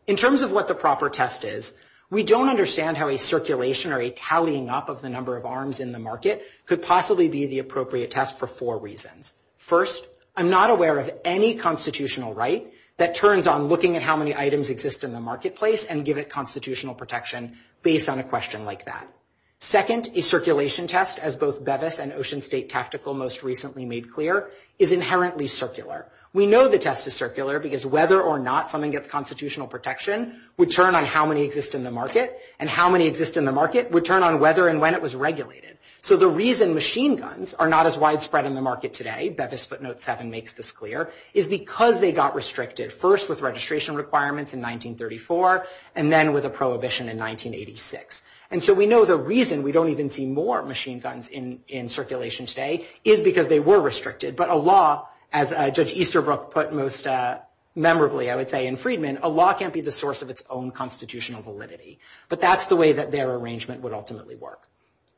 In terms of what the proper test is, we don't understand how a circulation or a tallying up of the number of arms in the market could possibly be the appropriate test for four reasons. First, I'm not aware of any constitutional right that turns on looking at how many items exist in the marketplace and give it constitutional protection based on a question like that. Second, a circulation test, as both Bevis and Ocean State Tactical most recently made clear, is inherently circular. We know the test is circular because whether or not someone gets constitutional protection would turn on how many exist in the market, and how many exist in the market would turn on whether and when it was regulated. So the reason machine guns are not as widespread in the market today, Bevis Footnote 7 makes this clear, is because they got restricted first with registration requirements in 1934 and then with a prohibition in 1986. And so we know the reason we don't even see more machine guns in circulation today is because they were restricted. But a law, as Judge Easterbrook put most memorably, I would say, in Freedman, a law can't be the source of its own constitutional validity. But that's the way that their arrangement would ultimately work.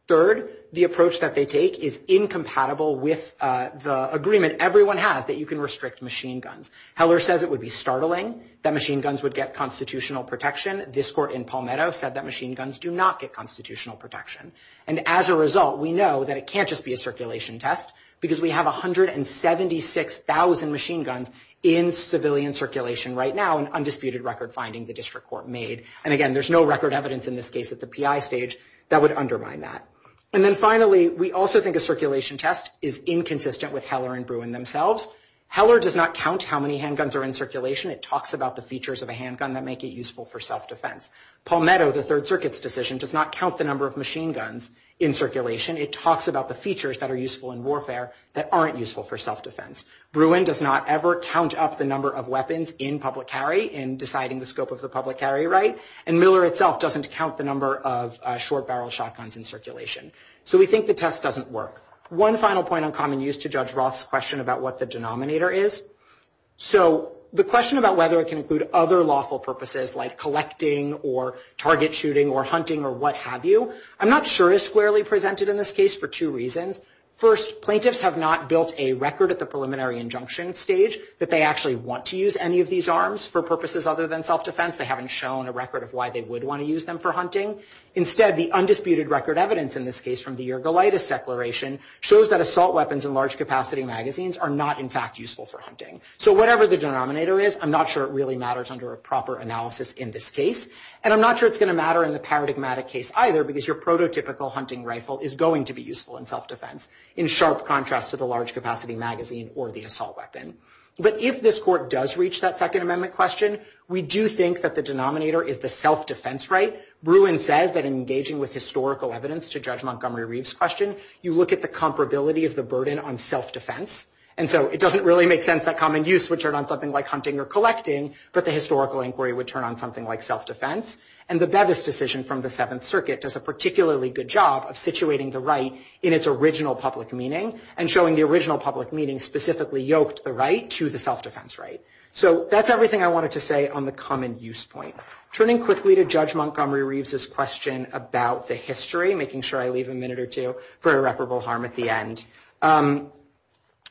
Third, the approach that they take is incompatible with the agreement everyone has that you can restrict machine guns. Heller says it would be startling that machine guns would get constitutional protection. This court in Palmetto said that machine guns do not get constitutional protection. And as a result, we know that it can't just be a circulation test because we have 176,000 machine guns in civilian circulation right now, an undisputed record finding the district court made. And again, there's no record evidence in this case at the PI stage that would undermine that. And then finally, we also think a circulation test is inconsistent with Heller and Bruin themselves. Heller does not count how many handguns are in circulation. It talks about the features of a handgun that make it useful for self-defense. Palmetto, the Third Circuit's decision, does not count the number of machine guns in circulation. It talks about the features that are useful in warfare that aren't useful for self-defense. Bruin does not ever count up the number of weapons in public carry in deciding the scope of the public carry right. And Miller itself doesn't count the number of short barrel shotguns in circulation. So we think the test doesn't work. One final point on common use to judge Roth's question about what the denominator is. So the question about whether it can include other lawful purposes like collecting or target shooting or hunting or what have you, I'm not sure is squarely presented in this case for two reasons. First, plaintiffs have not built a record at the preliminary injunction stage that they actually want to use any of these arms for purposes other than self-defense. They haven't shown a record of why they would want to use them for hunting. Instead, the undisputed record evidence in this case from the Yergolaitis Declaration shows that assault weapons and large capacity magazines are not, in fact, useful for hunting. So whatever the denominator is, I'm not sure it really matters under a proper analysis in this case. And I'm not sure it's going to matter in the paradigmatic case either because your prototypical hunting rifle is going to be useful in self-defense in sharp contrast to the large capacity magazine or the assault weapon. But if this Court does reach that Second Amendment question, we do think that the denominator is the self-defense right. Bruin says that in engaging with historical evidence to judge Montgomery Reeve's question, you look at the comparability of the burden on self-defense. And so it doesn't really make sense that common use would turn on something like hunting or collecting, but the historical inquiry would turn on something like self-defense. And the Bevis decision from the Seventh Circuit does a particularly good job of situating the right in its original public meaning and showing the original public meaning specifically yoked the right to the self-defense right. So that's everything I wanted to say on the common use point. Turning quickly to Judge Montgomery Reeve's question about the history, making sure I leave a minute or two for irreparable harm at the end,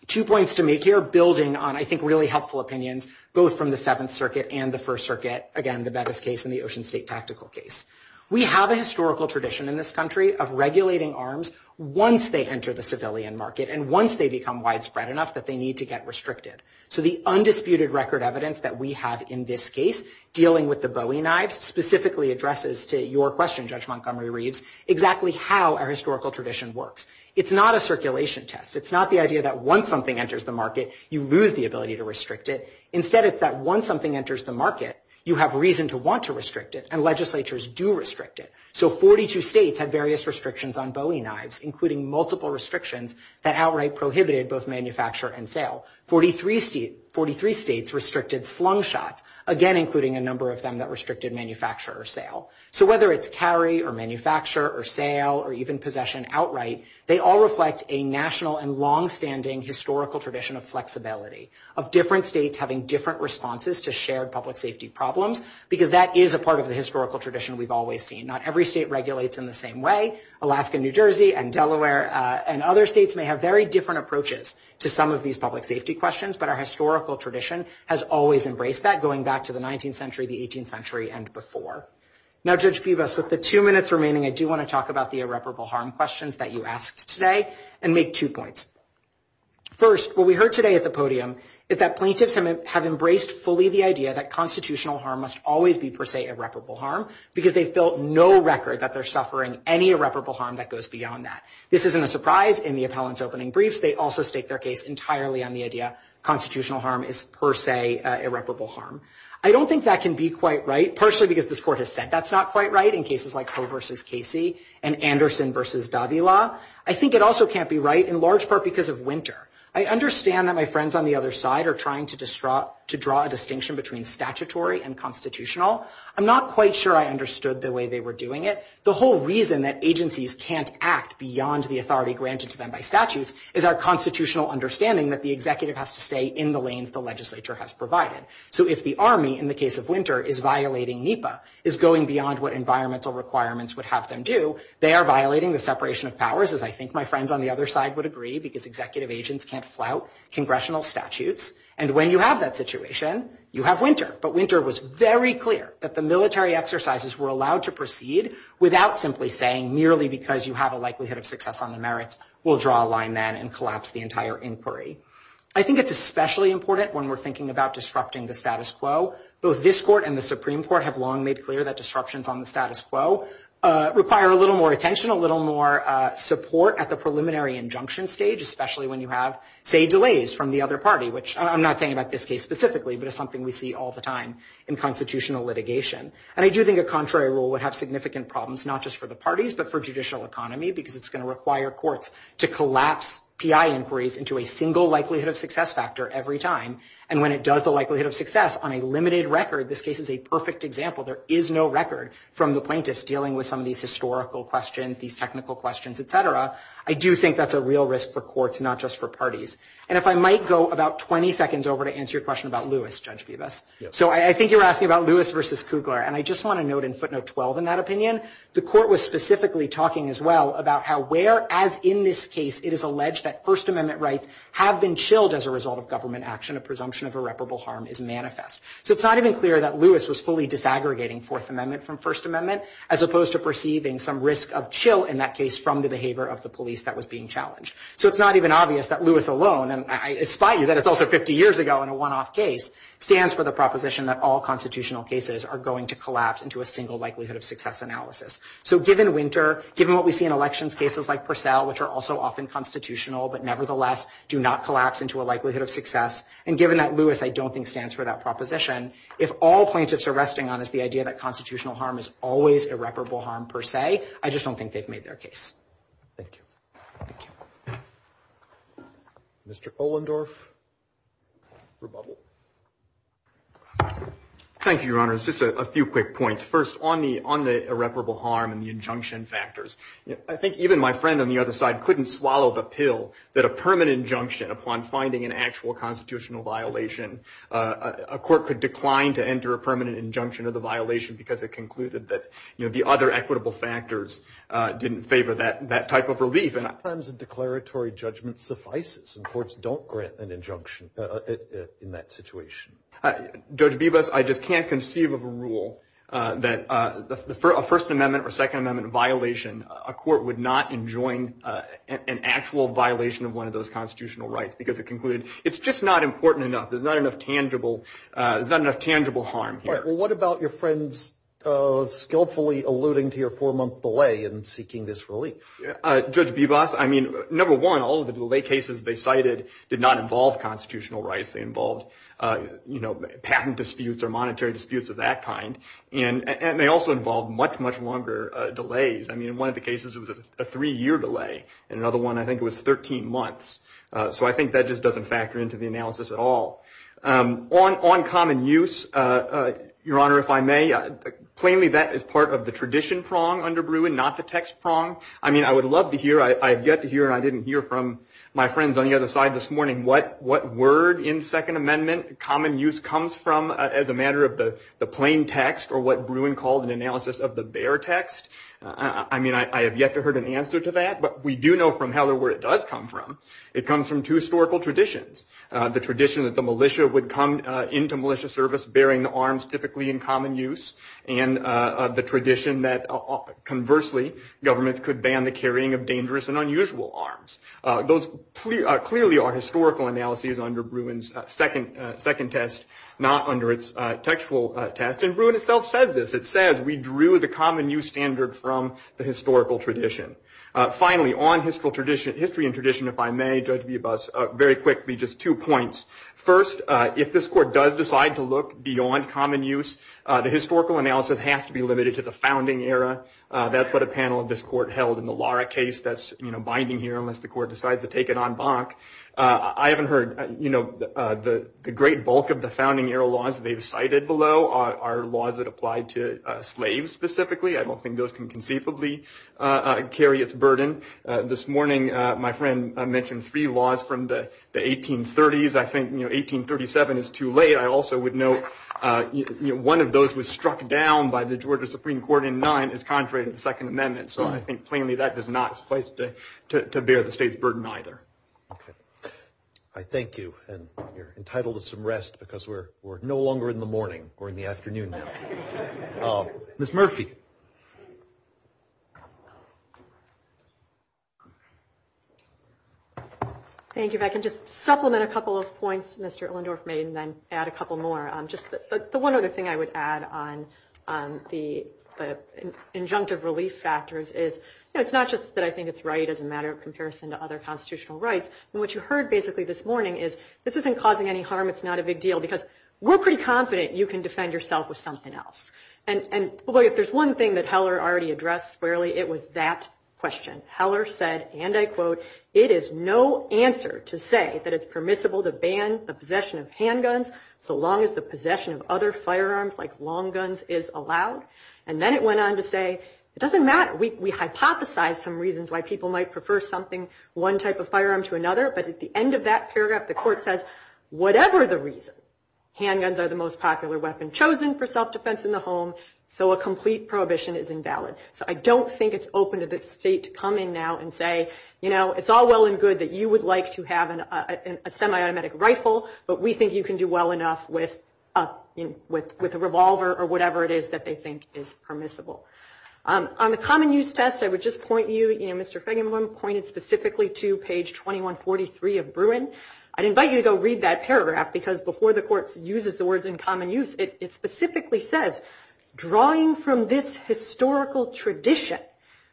two points to make here, building on, I think, really helpful opinions, both from the Seventh Circuit and the First Circuit, again, the Bevis case and the Ocean State tactical case. We have a historical tradition in this country of regulating arms once they enter the civilian market and once they become widespread enough that they need to get restricted. So the undisputed record evidence that we have in this case, dealing with the Bowie knives, specifically addresses to your question, Judge Montgomery Reeve's, exactly how our historical tradition works. It's not a circulation test. It's not the idea that once something enters the market, you lose the ability to restrict it. Instead, it's that once something enters the market, you have reason to want to restrict it, and legislatures do restrict it. So 42 states had various restrictions on Bowie knives, including multiple restrictions that outright prohibited both manufacture and sale. Forty-three states restricted slung shots, again, including a number of them that restricted manufacture or sale. So whether it's carry or manufacture or sale or even possession outright, they all reflect a national and longstanding historical tradition of flexibility, of different states having different responses to shared public safety problems, because that is a part of the historical tradition we've always seen. Not every state regulates in the same way. Alaska, New Jersey, and Delaware, and other states may have very different approaches to some of these public safety questions, but our historical tradition has always embraced that, going back to the 19th century, the 18th century, and before. Now, Judge Peebus, with the two minutes remaining, I do want to talk about the irreparable harm questions that you asked today and make two points. First, what we heard today at the podium is that plaintiffs have embraced fully the idea that constitutional harm must always be, per se, irreparable harm, because they've built no record that they're suffering any irreparable harm that goes beyond that. This isn't a surprise in the appellant's opening briefs. They also stake their case entirely on the idea constitutional harm is, per se, irreparable harm. I don't think that can be quite right, partially because this Court has said that's not quite right in cases like Ho v. Casey and Anderson v. Davila. I think it also can't be right, in large part, because of Winter. I understand that my friends on the other side are trying to draw a distinction between statutory and constitutional. I'm not quite sure I understood the way they were doing it. The whole reason that agencies can't act beyond the authority granted to them by statutes is our constitutional understanding that the executive has to stay in the lanes the legislature has provided. So if the Army, in the case of Winter, is violating NEPA, is going beyond what environmental requirements would have them do, they are violating the separation of powers, as I think my friends on the other side would agree, because executive agents can't flout congressional statutes. And when you have that situation, you have Winter. But Winter was very clear that the military exercises were allowed to proceed without simply saying merely because you have a likelihood of success on the merits, we'll draw a line then and collapse the entire inquiry. I think it's especially important when we're thinking about disrupting the status quo. Both this Court and the Supreme Court have long made clear that disruptions on the status quo require a little more attention, a little more support at the preliminary injunction stage, especially when you have, say, delays from the other party, which I'm not saying about this case specifically, but it's something we see all the time in constitutional litigation. And I do think a contrary rule would have significant problems, not just for the parties, but for judicial economy, because it's going to require courts to collapse PI inquiries into a single likelihood of success factor every time. And when it does the likelihood of success on a limited record, this case is a perfect example. There is no record from the plaintiffs dealing with some of these historical questions, these technical questions, et cetera. I do think that's a real risk for courts, not just for parties. And if I might go about 20 seconds over to answer your question about Lewis, Judge Bibas. So I think you were asking about Lewis versus Kugler, and I just want to note in footnote 12 in that opinion, the Court was specifically talking as well about how whereas in this case it is alleged that First Amendment rights have been chilled as a result of government action, a presumption of irreparable harm is manifest. So it's not even clear that Lewis was fully disaggregating Fourth Amendment from First Amendment as opposed to perceiving some risk of chill in that case from the behavior of the police that was being challenged. So it's not even obvious that Lewis alone, and I spite you that it's also 50 years ago in a one-off case, stands for the proposition that all constitutional cases are going to collapse into a single likelihood of success analysis. So given Winter, given what we see in elections cases like Purcell, and given that Lewis I don't think stands for that proposition, if all plaintiffs are resting on is the idea that constitutional harm is always irreparable harm per se, I just don't think they've made their case. Thank you. Thank you. Mr. Polendorf, rebuttal. Thank you, Your Honors. Just a few quick points. First, on the irreparable harm and the injunction factors, I think even my friend on the other side couldn't swallow the pill that a permanent injunction upon finding an actual constitutional violation, a court could decline to enter a permanent injunction of the violation because it concluded that, you know, the other equitable factors didn't favor that type of relief. Terms of declaratory judgment suffices, and courts don't grant an injunction in that situation. Judge Bibas, I just can't conceive of a rule that a First Amendment or Second Amendment violation, a court would not enjoin an actual violation of one of those constitutional rights because it concluded it's just not important enough. There's not enough tangible harm here. All right. Well, what about your friend's skillfully alluding to your four-month delay in seeking this relief? Judge Bibas, I mean, number one, all of the delay cases they cited did not involve constitutional rights. They involved, you know, patent disputes or monetary disputes of that kind, and they also involved much, much longer delays. I mean, one of the cases was a three-year delay, and another one I think was 13 months. So I think that just doesn't factor into the analysis at all. On common use, Your Honor, if I may, plainly that is part of the tradition prong under Bruin, not the text prong. I mean, I would love to hear, I have yet to hear, and I didn't hear from my friends on the other side this morning what word in Second Amendment common use comes from as a matter of the plain text or what Bruin called an analysis of the bare text. I mean, I have yet to hear an answer to that, but we do know from Heller where it does come from. It comes from two historical traditions, the tradition that the militia would come into militia service bearing the arms typically in common use, and the tradition that, conversely, governments could ban the carrying of dangerous and unusual arms. Those clearly are historical analyses under Bruin's second test, not under its textual test, and Bruin itself says this. Finally, on history and tradition, if I may, Judge Villabuz, very quickly, just two points. First, if this Court does decide to look beyond common use, the historical analysis has to be limited to the founding era. That's what a panel of this Court held in the Lara case. That's binding here unless the Court decides to take it en banc. I haven't heard the great bulk of the founding era laws they've cited below are laws that apply to slaves specifically. I don't think those can conceivably carry its burden. This morning my friend mentioned three laws from the 1830s. I think 1837 is too late. I also would note one of those was struck down by the Georgia Supreme Court in nine as contrary to the Second Amendment. So I think plainly that does not suffice to bear the state's burden either. I thank you, and you're entitled to some rest because we're no longer in the morning. We're in the afternoon now. Ms. Murphy. Thank you. If I can just supplement a couple of points Mr. Illendorf made and then add a couple more. The one other thing I would add on the injunctive relief factors is it's not just that I think it's right as a matter of comparison to other constitutional rights. What you heard basically this morning is this isn't causing any harm. It's not a big deal because we're pretty confident you can defend yourself with something else. And if there's one thing that Heller already addressed fairly, it was that question. Heller said, and I quote, it is no answer to say that it's permissible to ban the possession of handguns so long as the possession of other firearms like long guns is allowed. And then it went on to say it doesn't matter. We hypothesize some reasons why people might prefer something, one type of firearm to another. But at the end of that paragraph, the court says whatever the reason, handguns are the most popular weapon chosen for self-defense in the home. So a complete prohibition is invalid. So I don't think it's open to the state to come in now and say, you know, it's all well and good that you would like to have a semi-automatic rifle. But we think you can do well enough with a revolver or whatever it is that they think is permissible. On the common use test, I would just point you, you know, Mr. Feigenbaum pointed specifically to page 2143 of Bruin. I'd invite you to go read that paragraph because before the court uses the words in common use, it specifically says, drawing from this historical tradition,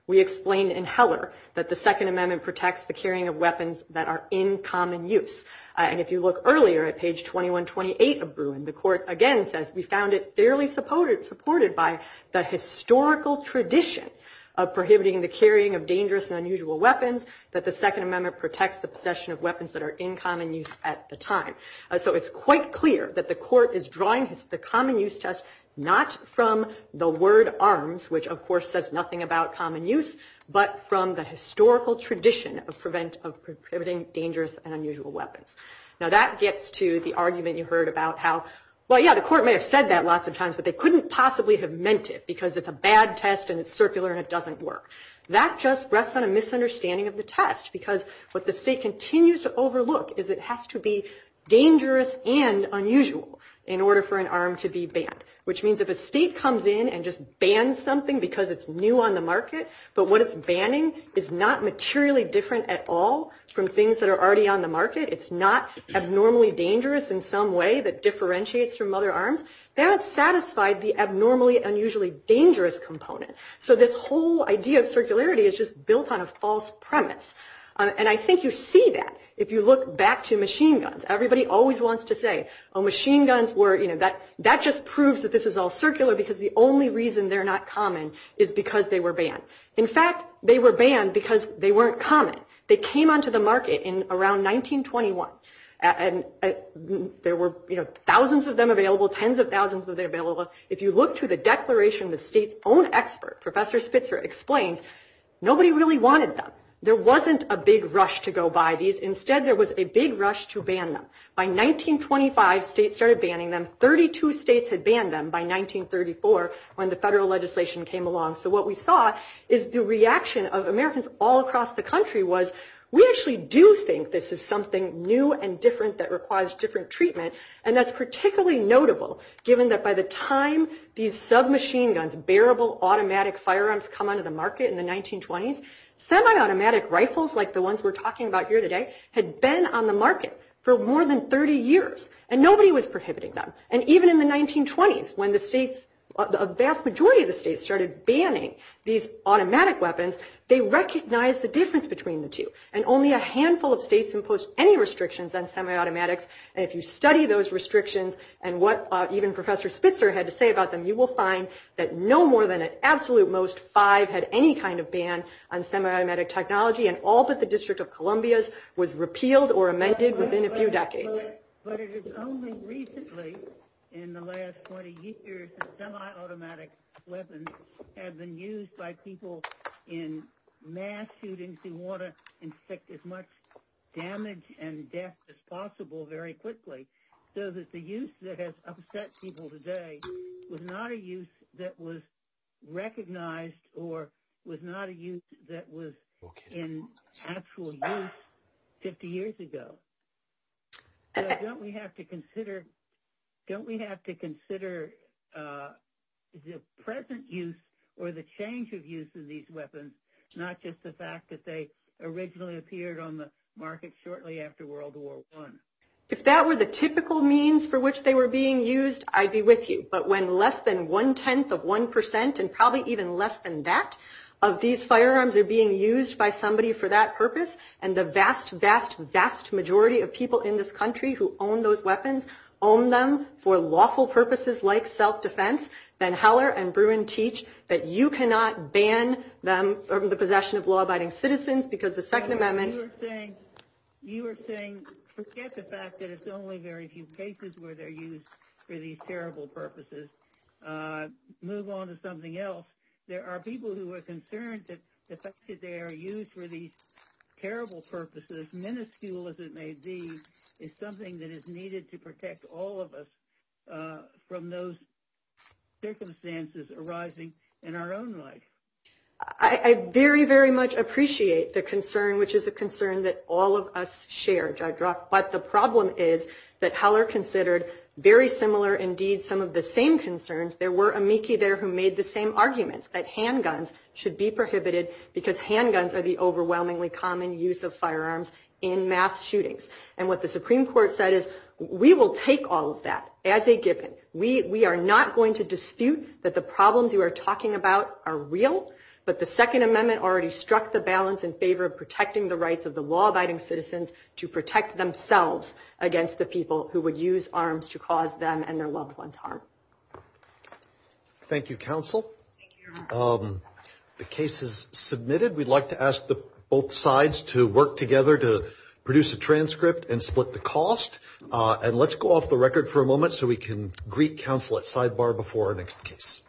we explain in Heller that the Second Amendment protects the carrying of weapons that are in common use. And if you look earlier at page 2128 of Bruin, the court again says, we found it fairly supported by the historical tradition of prohibiting the carrying of dangerous and unusual weapons, that the Second Amendment protects the possession of weapons that are in common use at the time. So it's quite clear that the court is drawing the common use test not from the word arms, which of course says nothing about common use, but from the historical tradition of prohibiting dangerous and unusual weapons. Now that gets to the argument you heard about how, well, yeah, the court may have said that lots of times, but they couldn't possibly have meant it because it's a bad test and it's circular and it doesn't work. That just rests on a misunderstanding of the test because what the state continues to overlook is it has to be dangerous and unusual in order for an arm to be banned, which means if a state comes in and just bans something because it's new on the market, but what it's banning is not materially different at all from things that are already on the market, it's not abnormally dangerous in some way that differentiates from other arms, that's satisfied the abnormally, unusually dangerous component. So this whole idea of circularity is just built on a false premise. And I think you see that if you look back to machine guns. Everybody always wants to say, oh, machine guns were, you know, that just proves that this is all circular because the only reason they're not common is because they were banned. In fact, they were banned because they weren't common. They came onto the market in around 1921 and there were, you know, thousands of them available, tens of thousands of them available. If you look to the declaration, the state's own expert, Professor Spitzer, explains nobody really wanted them. There wasn't a big rush to go buy these. Instead, there was a big rush to ban them. By 1925, states started banning them. Thirty-two states had banned them by 1934 when the federal legislation came along. So what we saw is the reaction of Americans all across the country was, we actually do think this is something new and different that requires different treatment, and that's particularly notable given that by the time these submachine guns, these bearable automatic firearms come onto the market in the 1920s, semi-automatic rifles like the ones we're talking about here today had been on the market for more than 30 years, and nobody was prohibiting them. And even in the 1920s when the states, a vast majority of the states started banning these automatic weapons, they recognized the difference between the two, and only a handful of states imposed any restrictions on semi-automatics. And if you study those restrictions and what even Professor Spitzer had to say about them, you will find that no more than an absolute most five had any kind of ban on semi-automatic technology, and all but the District of Columbia's was repealed or amended within a few decades. But it is only recently in the last 20 years that semi-automatic weapons have been used by people in mass shootings who want to infect as much damage and death as possible very quickly, so that the use that has upset people today was not a use that was recognized or was not a use that was in actual use 50 years ago. So don't we have to consider the present use or the change of use of these weapons, not just the fact that they originally appeared on the market shortly after World War I? If that were the typical means for which they were being used, I'd be with you. But when less than one-tenth of one percent, and probably even less than that, of these firearms are being used by somebody for that purpose, and the vast, vast, vast majority of people in this country who own those weapons own them for lawful purposes like self-defense, then Heller and Bruin teach that you cannot ban them from the possession of law-abiding citizens, because the Second Amendment – You are saying forget the fact that it's only very few cases where they're used for these terrible purposes. Move on to something else. There are people who are concerned that the fact that they are used for these terrible purposes, minuscule as it may be, is something that is needed to protect all of us from those circumstances arising in our own life. I very, very much appreciate the concern, which is a concern that all of us share, Judge Rock. But the problem is that Heller considered very similar, indeed, some of the same concerns. There were amici there who made the same arguments, that handguns should be prohibited because handguns are the overwhelmingly common use of firearms in mass shootings. And what the Supreme Court said is, we will take all of that as a given. We are not going to dispute that the problems you are talking about are real, but the Second Amendment already struck the balance in favor of protecting the rights of the law-abiding citizens to protect themselves against the people who would use arms to cause them and their loved ones harm. Thank you, counsel. The case is submitted. We'd like to ask both sides to work together to produce a transcript and split the cost. And let's go off the record for a moment so we can greet counsel at sidebar before our next case. Thank you.